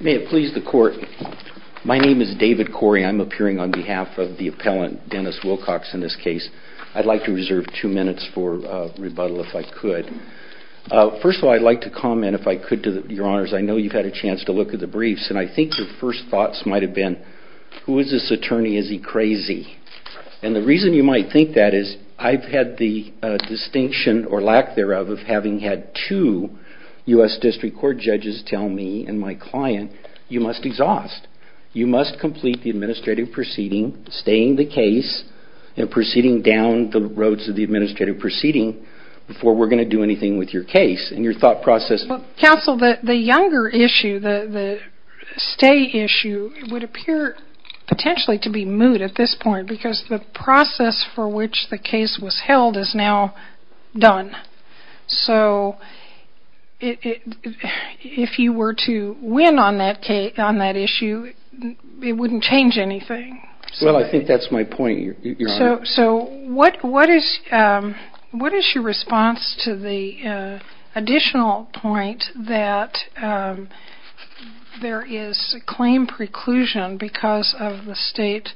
May it please the court my name is David Corey I'm appearing on behalf of the appellant Dennis Wilcox in this case I'd like to reserve two minutes for rebuttal if I could first of all I'd like to comment if I could to the your honors I know you've had a chance to look at the briefs and I think your first thoughts might have been who is this attorney is he crazy and the reason you might think that is I've had the distinction or lack thereof of having had two US District Court judges tell me and my client you must exhaust you must complete the administrative proceeding staying the case and proceeding down the roads of the administrative proceeding before we're going to do anything with your case and your thought process counsel that the younger issue the the stay issue would appear potentially to be moot at this point because the process for which the case was held is now done so if you were to win on that case on that issue it wouldn't change anything well I think that's my point so what what is what is your response to the additional point that there is claim preclusion because of the state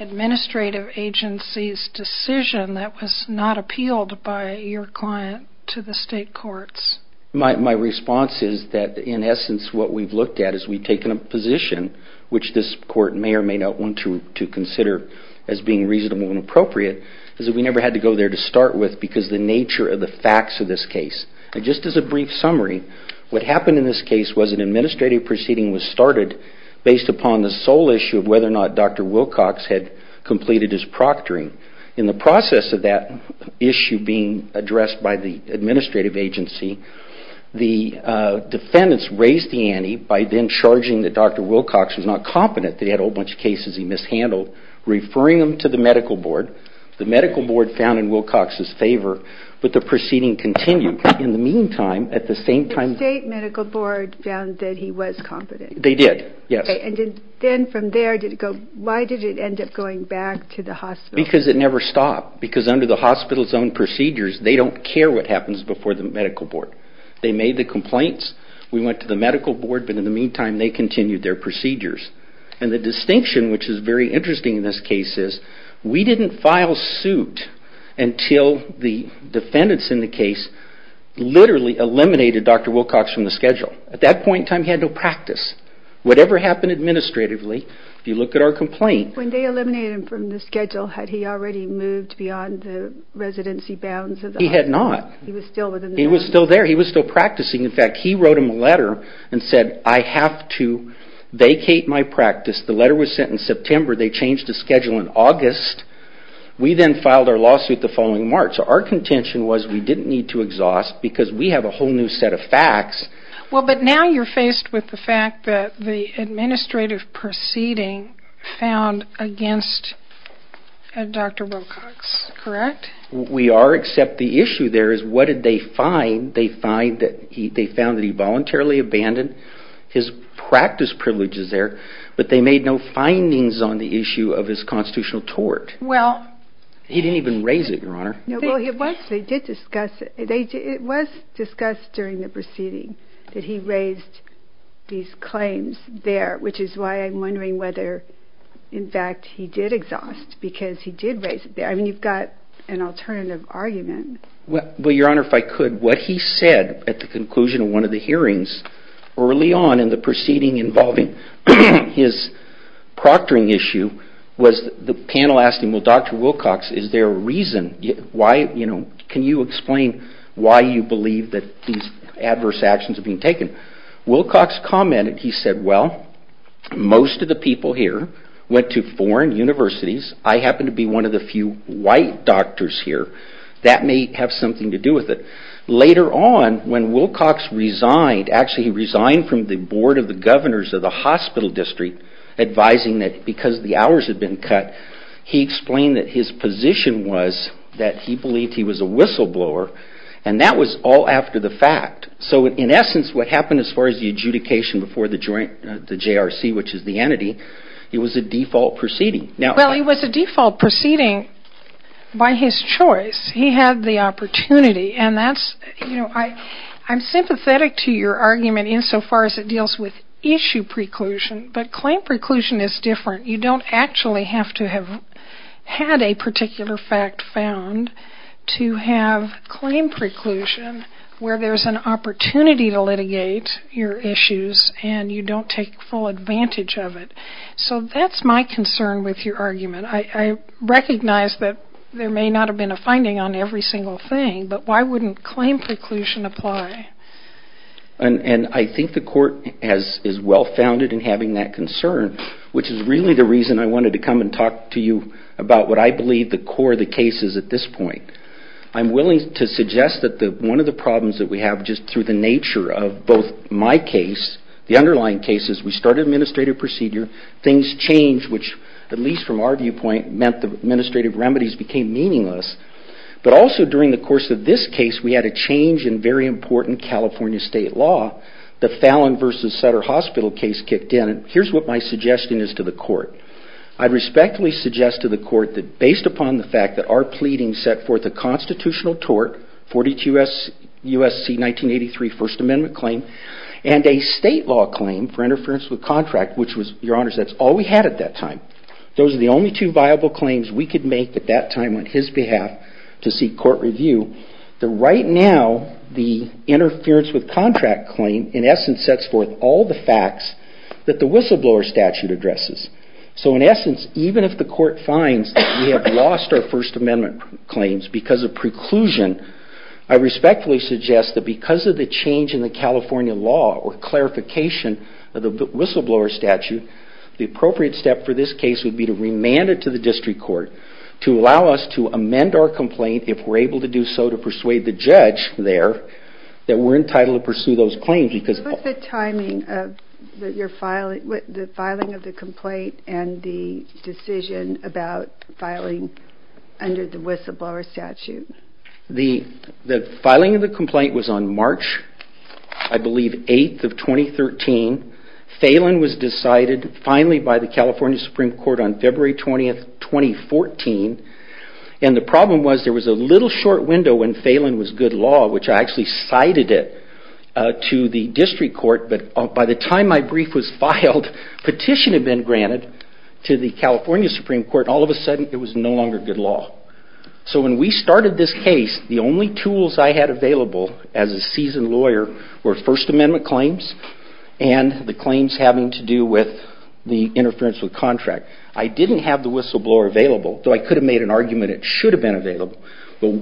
administrative agency's decision that was not appealed by your client to the state courts my response is that in essence what we've looked at is we've taken a position which this court may or may not want to to consider as being reasonable and appropriate is that we never had to go there to start with because the nature of the facts of this case just as a brief summary what happened in this case was an upon the sole issue of whether or not dr. Wilcox had completed his proctoring in the process of that issue being addressed by the administrative agency the defendants raised the ante by then charging that dr. Wilcox was not competent they had a whole bunch of cases he mishandled referring them to the medical board the medical board found in Wilcox's favor but the proceeding continued in the meantime at the same time state medical board found that he was competent they did yes and then from there did it go why did it end up going back to the hospital because it never stopped because under the hospital's own procedures they don't care what happens before the medical board they made the complaints we went to the medical board but in the meantime they continued their procedures and the distinction which is very interesting in this case is we didn't file suit until the defendants in the case literally eliminated dr. Wilcox from the schedule at that point time he had no practice whatever happened administratively if you look at our complaint when they eliminated him from the schedule had he already moved beyond the residency bounds he had not he was still there he was still practicing in fact he wrote him a letter and said I have to vacate my practice the letter was sent in September they changed the schedule in August we then filed our lawsuit the following March our contention was we didn't need to exhaust because we have a whole new set of facts well but now you're faced with the fact that the administrative proceeding found against dr. Wilcox correct we are except the issue there is what did they find they find that he they found that he voluntarily abandoned his practice privileges there but they made no findings on the issue of his constitutional tort well he didn't even raise it your honor it was discussed during the proceeding that he raised these claims there which is why I'm wondering whether in fact he did exhaust because he did raise there I mean you've got an alternative argument well your honor if I could what he said at the conclusion of one of the hearings early on in the proceeding involving his proctoring issue was the panel asking well dr. Wilcox is there a reason why you know can you explain why you believe that these adverse actions are being taken Wilcox commented he said well most of the people here went to foreign universities I happen to be one of the few white doctors here that may have something to do with it later on when Wilcox resigned actually he resigned from the Board of the Governors of the his position was that he believed he was a whistleblower and that was all after the fact so in essence what happened as far as the adjudication before the joint the JRC which is the entity it was a default proceeding now well he was a default proceeding by his choice he had the opportunity and that's you know I I'm sympathetic to your argument insofar as it deals with issue preclusion but actually have to have had a particular fact found to have claim preclusion where there's an opportunity to litigate your issues and you don't take full advantage of it so that's my concern with your argument I recognize that there may not have been a finding on every single thing but why wouldn't claim preclusion apply and and I think the court has is well-founded in having that concern which is really the reason I wanted to come and talk to you about what I believe the core of the case is at this point I'm willing to suggest that the one of the problems that we have just through the nature of both my case the underlying cases we started administrative procedure things change which at least from our viewpoint meant the administrative remedies became meaningless but also during the course of this case we had a change in very important California state law the Fallon versus Sutter Hospital case kicked in and here's what my suggestion is to the court I respectfully suggest to the court that based upon the fact that our pleading set forth a constitutional tort 42s USC 1983 First Amendment claim and a state law claim for interference with contract which was your honors that's all we had at that time those are the only two viable claims we could make at that time on his behalf to see court review the right now the interference with contract claim in the facts that the whistleblower statute addresses so in essence even if the court finds that we have lost our First Amendment claims because of preclusion I respectfully suggest that because of the change in the California law or clarification of the whistleblower statute the appropriate step for this case would be to remand it to the district court to allow us to amend our complaint if we're able to do so to persuade the judge there that we're entitled to pursue those claims because the timing of your filing with the filing of the complaint and the decision about filing under the whistleblower statute the the filing of the complaint was on March I believe 8th of 2013 Phelan was decided finally by the California Supreme Court on February 20th 2014 and the problem was there was a little short window when I actually cited it to the district court but by the time my brief was filed petition had been granted to the California Supreme Court all of a sudden it was no longer good law so when we started this case the only tools I had available as a seasoned lawyer were First Amendment claims and the claims having to do with the interference with contract I didn't have the whistleblower available so I could have made an argument it should have been available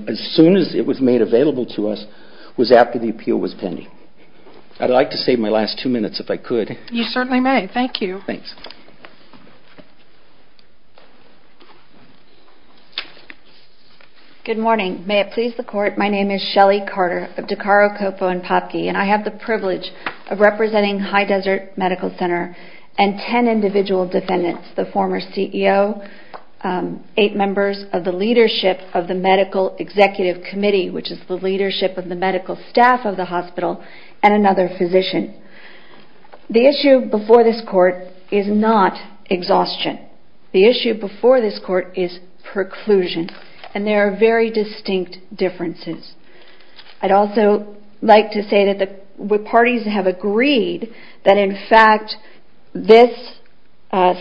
as soon as it was made available to us was after the appeal was pending I'd like to save my last two minutes if I could you certainly may thank you good morning may it please the court my name is Shelley Carter of DeCaro Coppo and Popke and I have the privilege of representing High Desert Medical Center and 10 individual defendants the former CEO eight members of the leadership of medical executive committee which is the leadership of the medical staff of the hospital and another physician the issue before this court is not exhaustion the issue before this court is preclusion and there are very distinct differences I'd also like to say that the parties have agreed that in fact this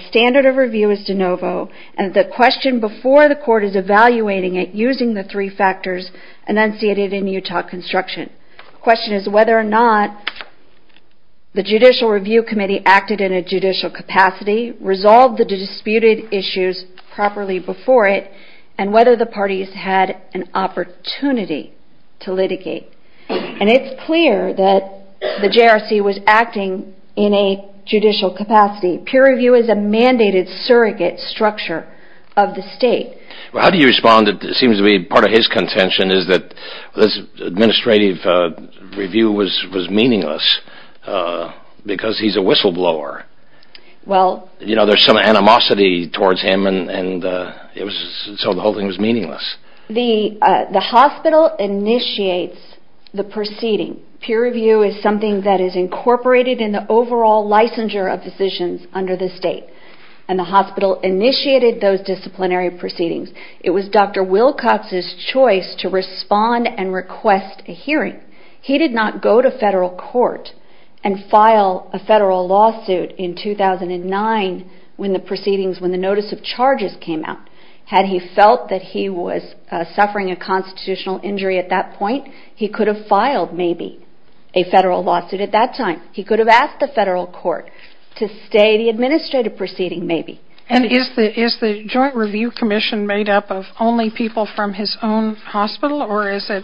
standard of review is de novo and the question before the court is evaluating it using the three factors enunciated in Utah construction question is whether or not the Judicial Review Committee acted in a judicial capacity resolve the disputed issues properly before it and whether the parties had an opportunity to litigate and it's clear that the JRC was acting in a judicial capacity peer review is a mandated surrogate structure of the respond it seems to be part of his contention is that this administrative review was was meaningless because he's a whistleblower well you know there's some animosity towards him and it was so the whole thing was meaningless the the hospital initiates the proceeding peer review is something that is incorporated in the overall licensure of physicians under the state and the hospital initiated those disciplinary proceedings it was Dr. Wilcox's choice to respond and request a hearing he did not go to federal court and file a federal lawsuit in 2009 when the proceedings when the notice of charges came out had he felt that he was suffering a constitutional injury at that point he could have filed maybe a federal lawsuit at that time he could have asked the is the Joint Review Commission made up of only people from his own hospital or is it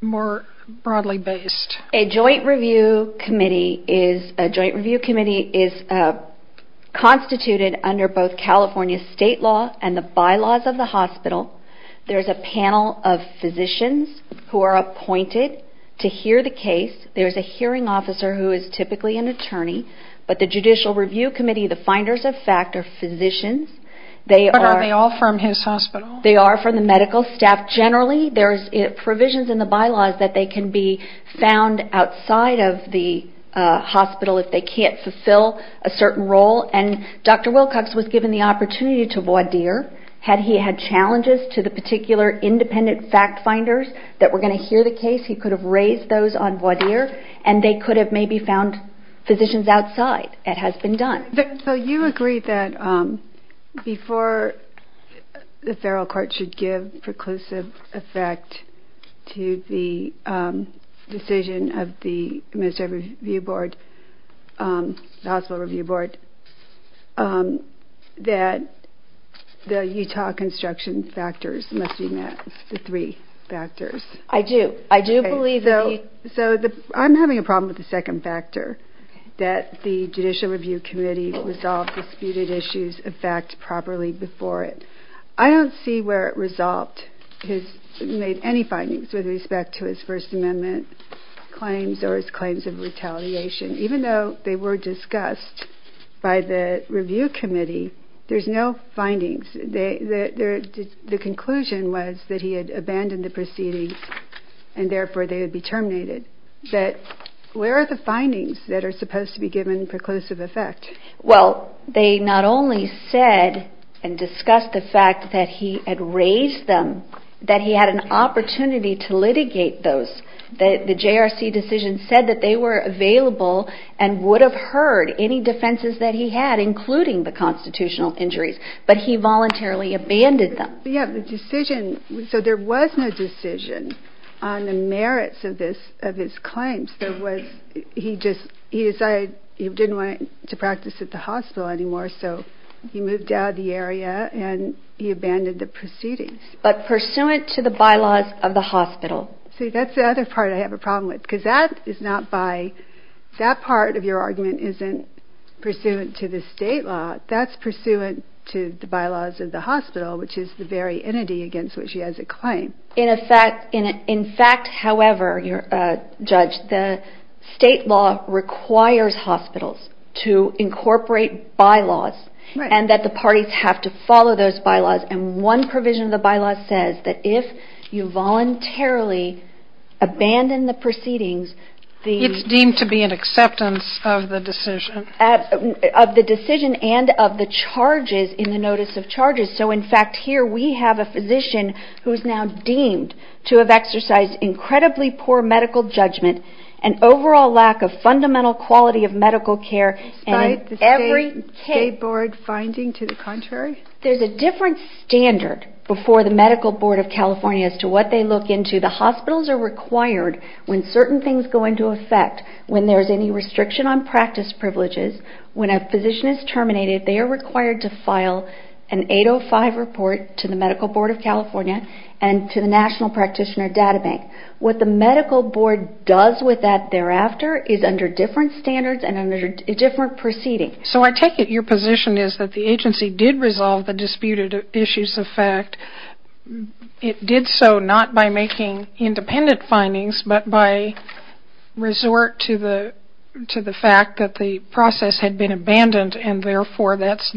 more broadly based a joint review committee is a joint review committee is constituted under both California state law and the bylaws of the hospital there's a panel of physicians who are appointed to hear the case there's a hearing officer who is typically an attorney but the Judicial Review Committee the finders of fact are physicians they are they all from his hospital they are from the medical staff generally there's provisions in the bylaws that they can be found outside of the hospital if they can't fulfill a certain role and Dr. Wilcox was given the opportunity to voir dire had he had challenges to the particular independent fact finders that were going to hear the case he could have raised those on voir dire and they could have maybe found physicians outside it has been done. So you agree that before the federal court should give preclusive effect to the decision of the administrative review board the hospital review board that the Utah construction factors must be met the three factors I do I do believe though so the I'm having a problem with the second factor that the Judicial Review Committee resolved disputed issues of fact properly before it I don't see where it resolved his made any findings with respect to his First Amendment claims or his claims of retaliation even though they were discussed by the review committee there's no findings they the conclusion was that he had abandoned the proceedings and therefore they would be findings that are supposed to be given preclusive effect well they not only said and discussed the fact that he had raised them that he had an opportunity to litigate those that the JRC decision said that they were available and would have heard any defenses that he had including the constitutional injuries but he voluntarily abandoned them we have the decision so there was no decision on the merits of this of his claims there was he just he decided he didn't want to practice at the hospital anymore so he moved out of the area and he abandoned the proceedings but pursuant to the bylaws of the hospital that's the other part I have a problem with because that is not by that part of your argument isn't pursuant to the state law that's pursuant to the bylaws of the hospital which is the very entity against which he has a claim in a fact in it in fact however your judge the state law requires hospitals to incorporate bylaws and that the parties have to follow those bylaws and one provision of the bylaws says that if you voluntarily abandon the proceedings the it's deemed to be an acceptance of the decision at of the decision and of the charges in the notice of charges so in fact here we have a physician who is now deemed to have exercised incredibly poor medical judgment and overall lack of fundamental quality of medical care and every board finding to the contrary there's a different standard before the Medical Board of California as to what they look into the hospitals are required when certain things go into effect when there's any restriction on practice privileges when a physician is required to file an 805 report to the Medical Board of California and to the National Practitioner Data Bank what the Medical Board does with that thereafter is under different standards and under a different proceeding so I take it your position is that the agency did resolve the disputed issues of fact it did so not by making independent findings but by resort to the to the fact that the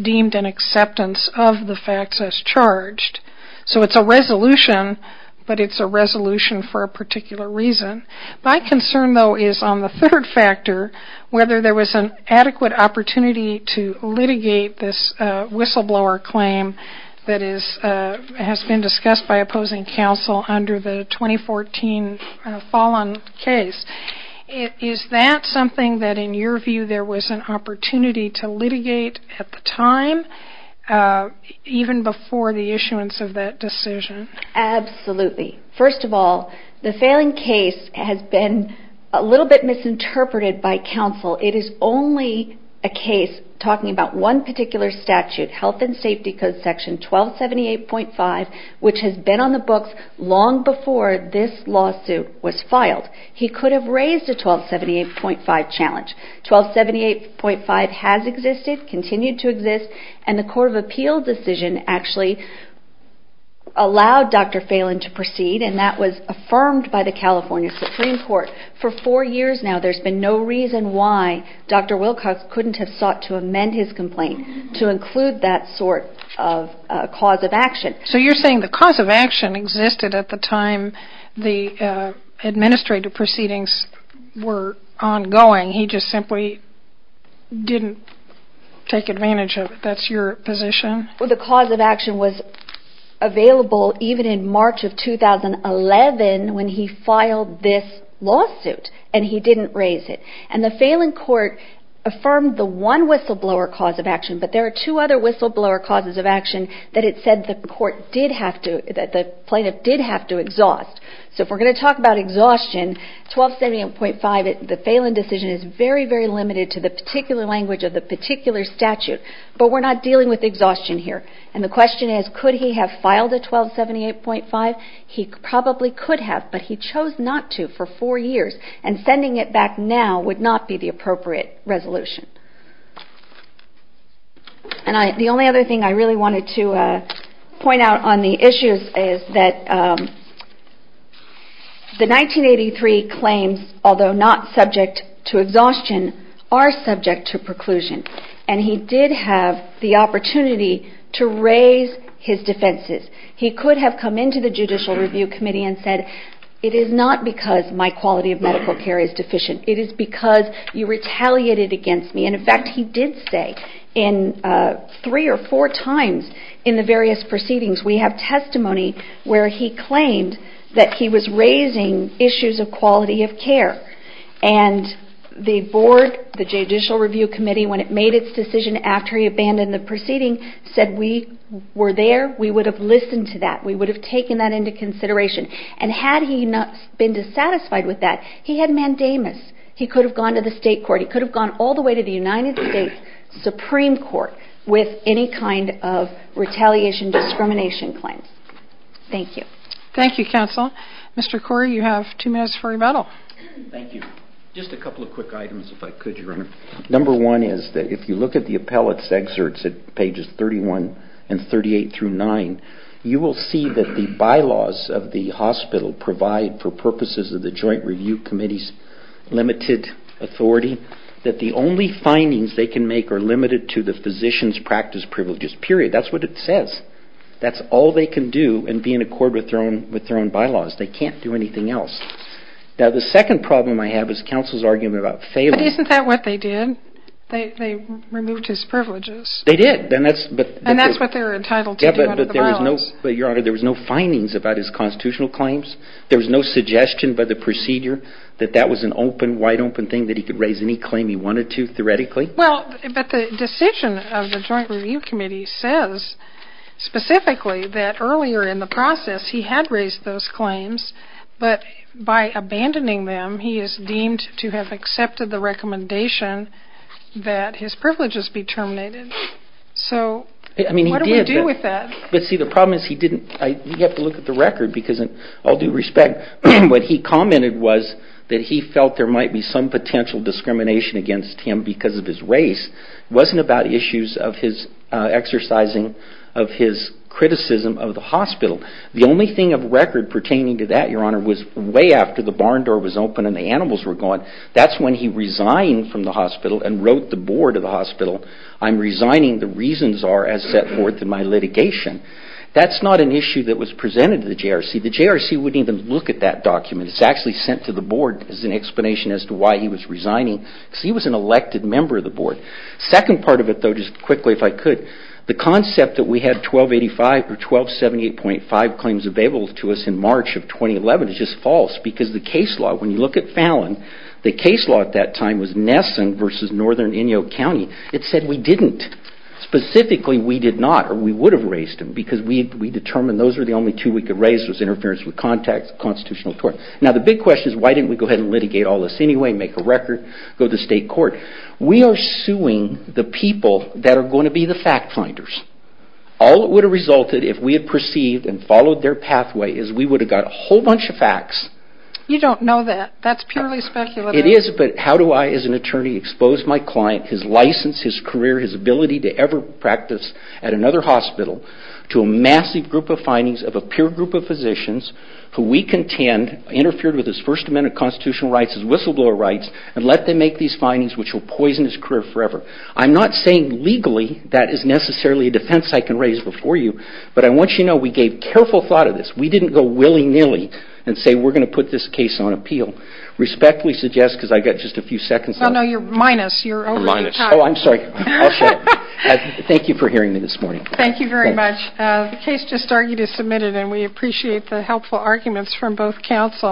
deemed an acceptance of the facts as charged so it's a resolution but it's a resolution for a particular reason my concern though is on the third factor whether there was an adequate opportunity to litigate this whistleblower claim that is has been discussed by opposing counsel under the 2014 fallen case is that something that in your view there was an opportunity to litigate at time even before the issuance of that decision absolutely first of all the failing case has been a little bit misinterpreted by counsel it is only a case talking about one particular statute health and safety code section 1278.5 which has been on the books long before this lawsuit was filed he could have raised a 1278.5 challenge 1278.5 has existed continued to exist and the Court of Appeal decision actually allowed dr. Phelan to proceed and that was affirmed by the California Supreme Court for four years now there's been no reason why dr. Wilcox couldn't have sought to amend his complaint to include that sort of cause of action so you're saying the cause of action existed at the time the administrative proceedings were ongoing he just simply didn't take advantage of it that's your position for the cause of action was available even in March of 2011 when he filed this lawsuit and he didn't raise it and the Phelan court affirmed the one whistleblower cause of action but there are two other whistleblower causes of action that it said that the court did have to that the plaintiff did have to exhaust so if we're going to talk about exhaustion 1278.5 the Phelan decision is very very limited to the particular language of the particular statute but we're not dealing with exhaustion here and the question is could he have filed a 1278.5 he probably could have but he chose not to for four years and sending it back now would not be the appropriate resolution and the only other thing I really wanted to point out on the issues is that the 1983 claims although not subject to exhaustion are subject to preclusion and he did have the opportunity to raise his defenses he could have come into the judicial review committee and said it is not because my quality of medical care is deficient it is because you retaliated against me and in fact he did say in three or four times in the various proceedings we have testimony where he claimed that he was raising issues of quality of care and the board the judicial review committee when it made its decision after he abandoned the proceeding said we were there we would have listened to that we would have taken that into consideration and had he not been dissatisfied with that he had mandamus he could have gone to the state court he could have gone all the way to the retaliation discrimination claims thank you thank you counsel Mr. Corey you have two minutes for rebuttal number one is that if you look at the appellate's excerpts at pages 31 and 38 through 9 you will see that the bylaws of the hospital provide for purposes of the joint review committee's limited authority that the only findings they can make are limited to the physician's practice privileges period that's what it says that's all they can do and be in accord with their own with their own bylaws they can't do anything else now the second problem I have is counsel's argument about failure isn't that what they did they removed his privileges they did then that's but and that's what they're entitled to but there was no but your honor there was no findings about his constitutional claims there was no suggestion by the procedure that that was an open wide open thing that he could raise any claim he wanted to well but the decision of the joint review committee says specifically that earlier in the process he had raised those claims but by abandoning them he is deemed to have accepted the recommendation that his privileges be terminated so I mean he did with that but see the problem is he didn't I have to look at the record because in all due respect what he commented was that he because of his race wasn't about issues of his exercising of his criticism of the hospital the only thing of record pertaining to that your honor was way after the barn door was open and the animals were gone that's when he resigned from the hospital and wrote the board of the hospital I'm resigning the reasons are as set forth in my litigation that's not an issue that was presented to the JRC the JRC wouldn't even look at that document it's actually sent to the board as an explanation as to why he was resigning he was an elected member of the board second part of it though just quickly if I could the concept that we had 1285 or 1278.5 claims available to us in March of 2011 is just false because the case law when you look at Fallon the case law at that time was Nesson versus northern Inyo County it said we didn't specifically we did not or we would have raised him because we determined those are the only two we could raise was interference with contact constitutional tort now the big question is why didn't we go ahead and litigate all this anyway make a record go to state court we are suing the people that are going to be the fact finders all it would have resulted if we had perceived and followed their pathway is we would have got a whole bunch of facts you don't know that that's purely speculative it is but how do I as an attorney expose my client his license his career his ability to ever practice at another hospital to a massive group of findings of a pure group of physicians who we contend interfered with his first amendment constitutional rights his whistleblower rights and let them make these findings which will poison his career forever I'm not saying legally that is necessarily a defense I can raise before you but I want you to know we gave careful thought of this we didn't go willy-nilly and say we're going to put this case on appeal respectfully suggest because I got just a few seconds I know you're minus your mind oh I'm sorry thank you for hearing me this morning thank you very much the case just started is submitted and we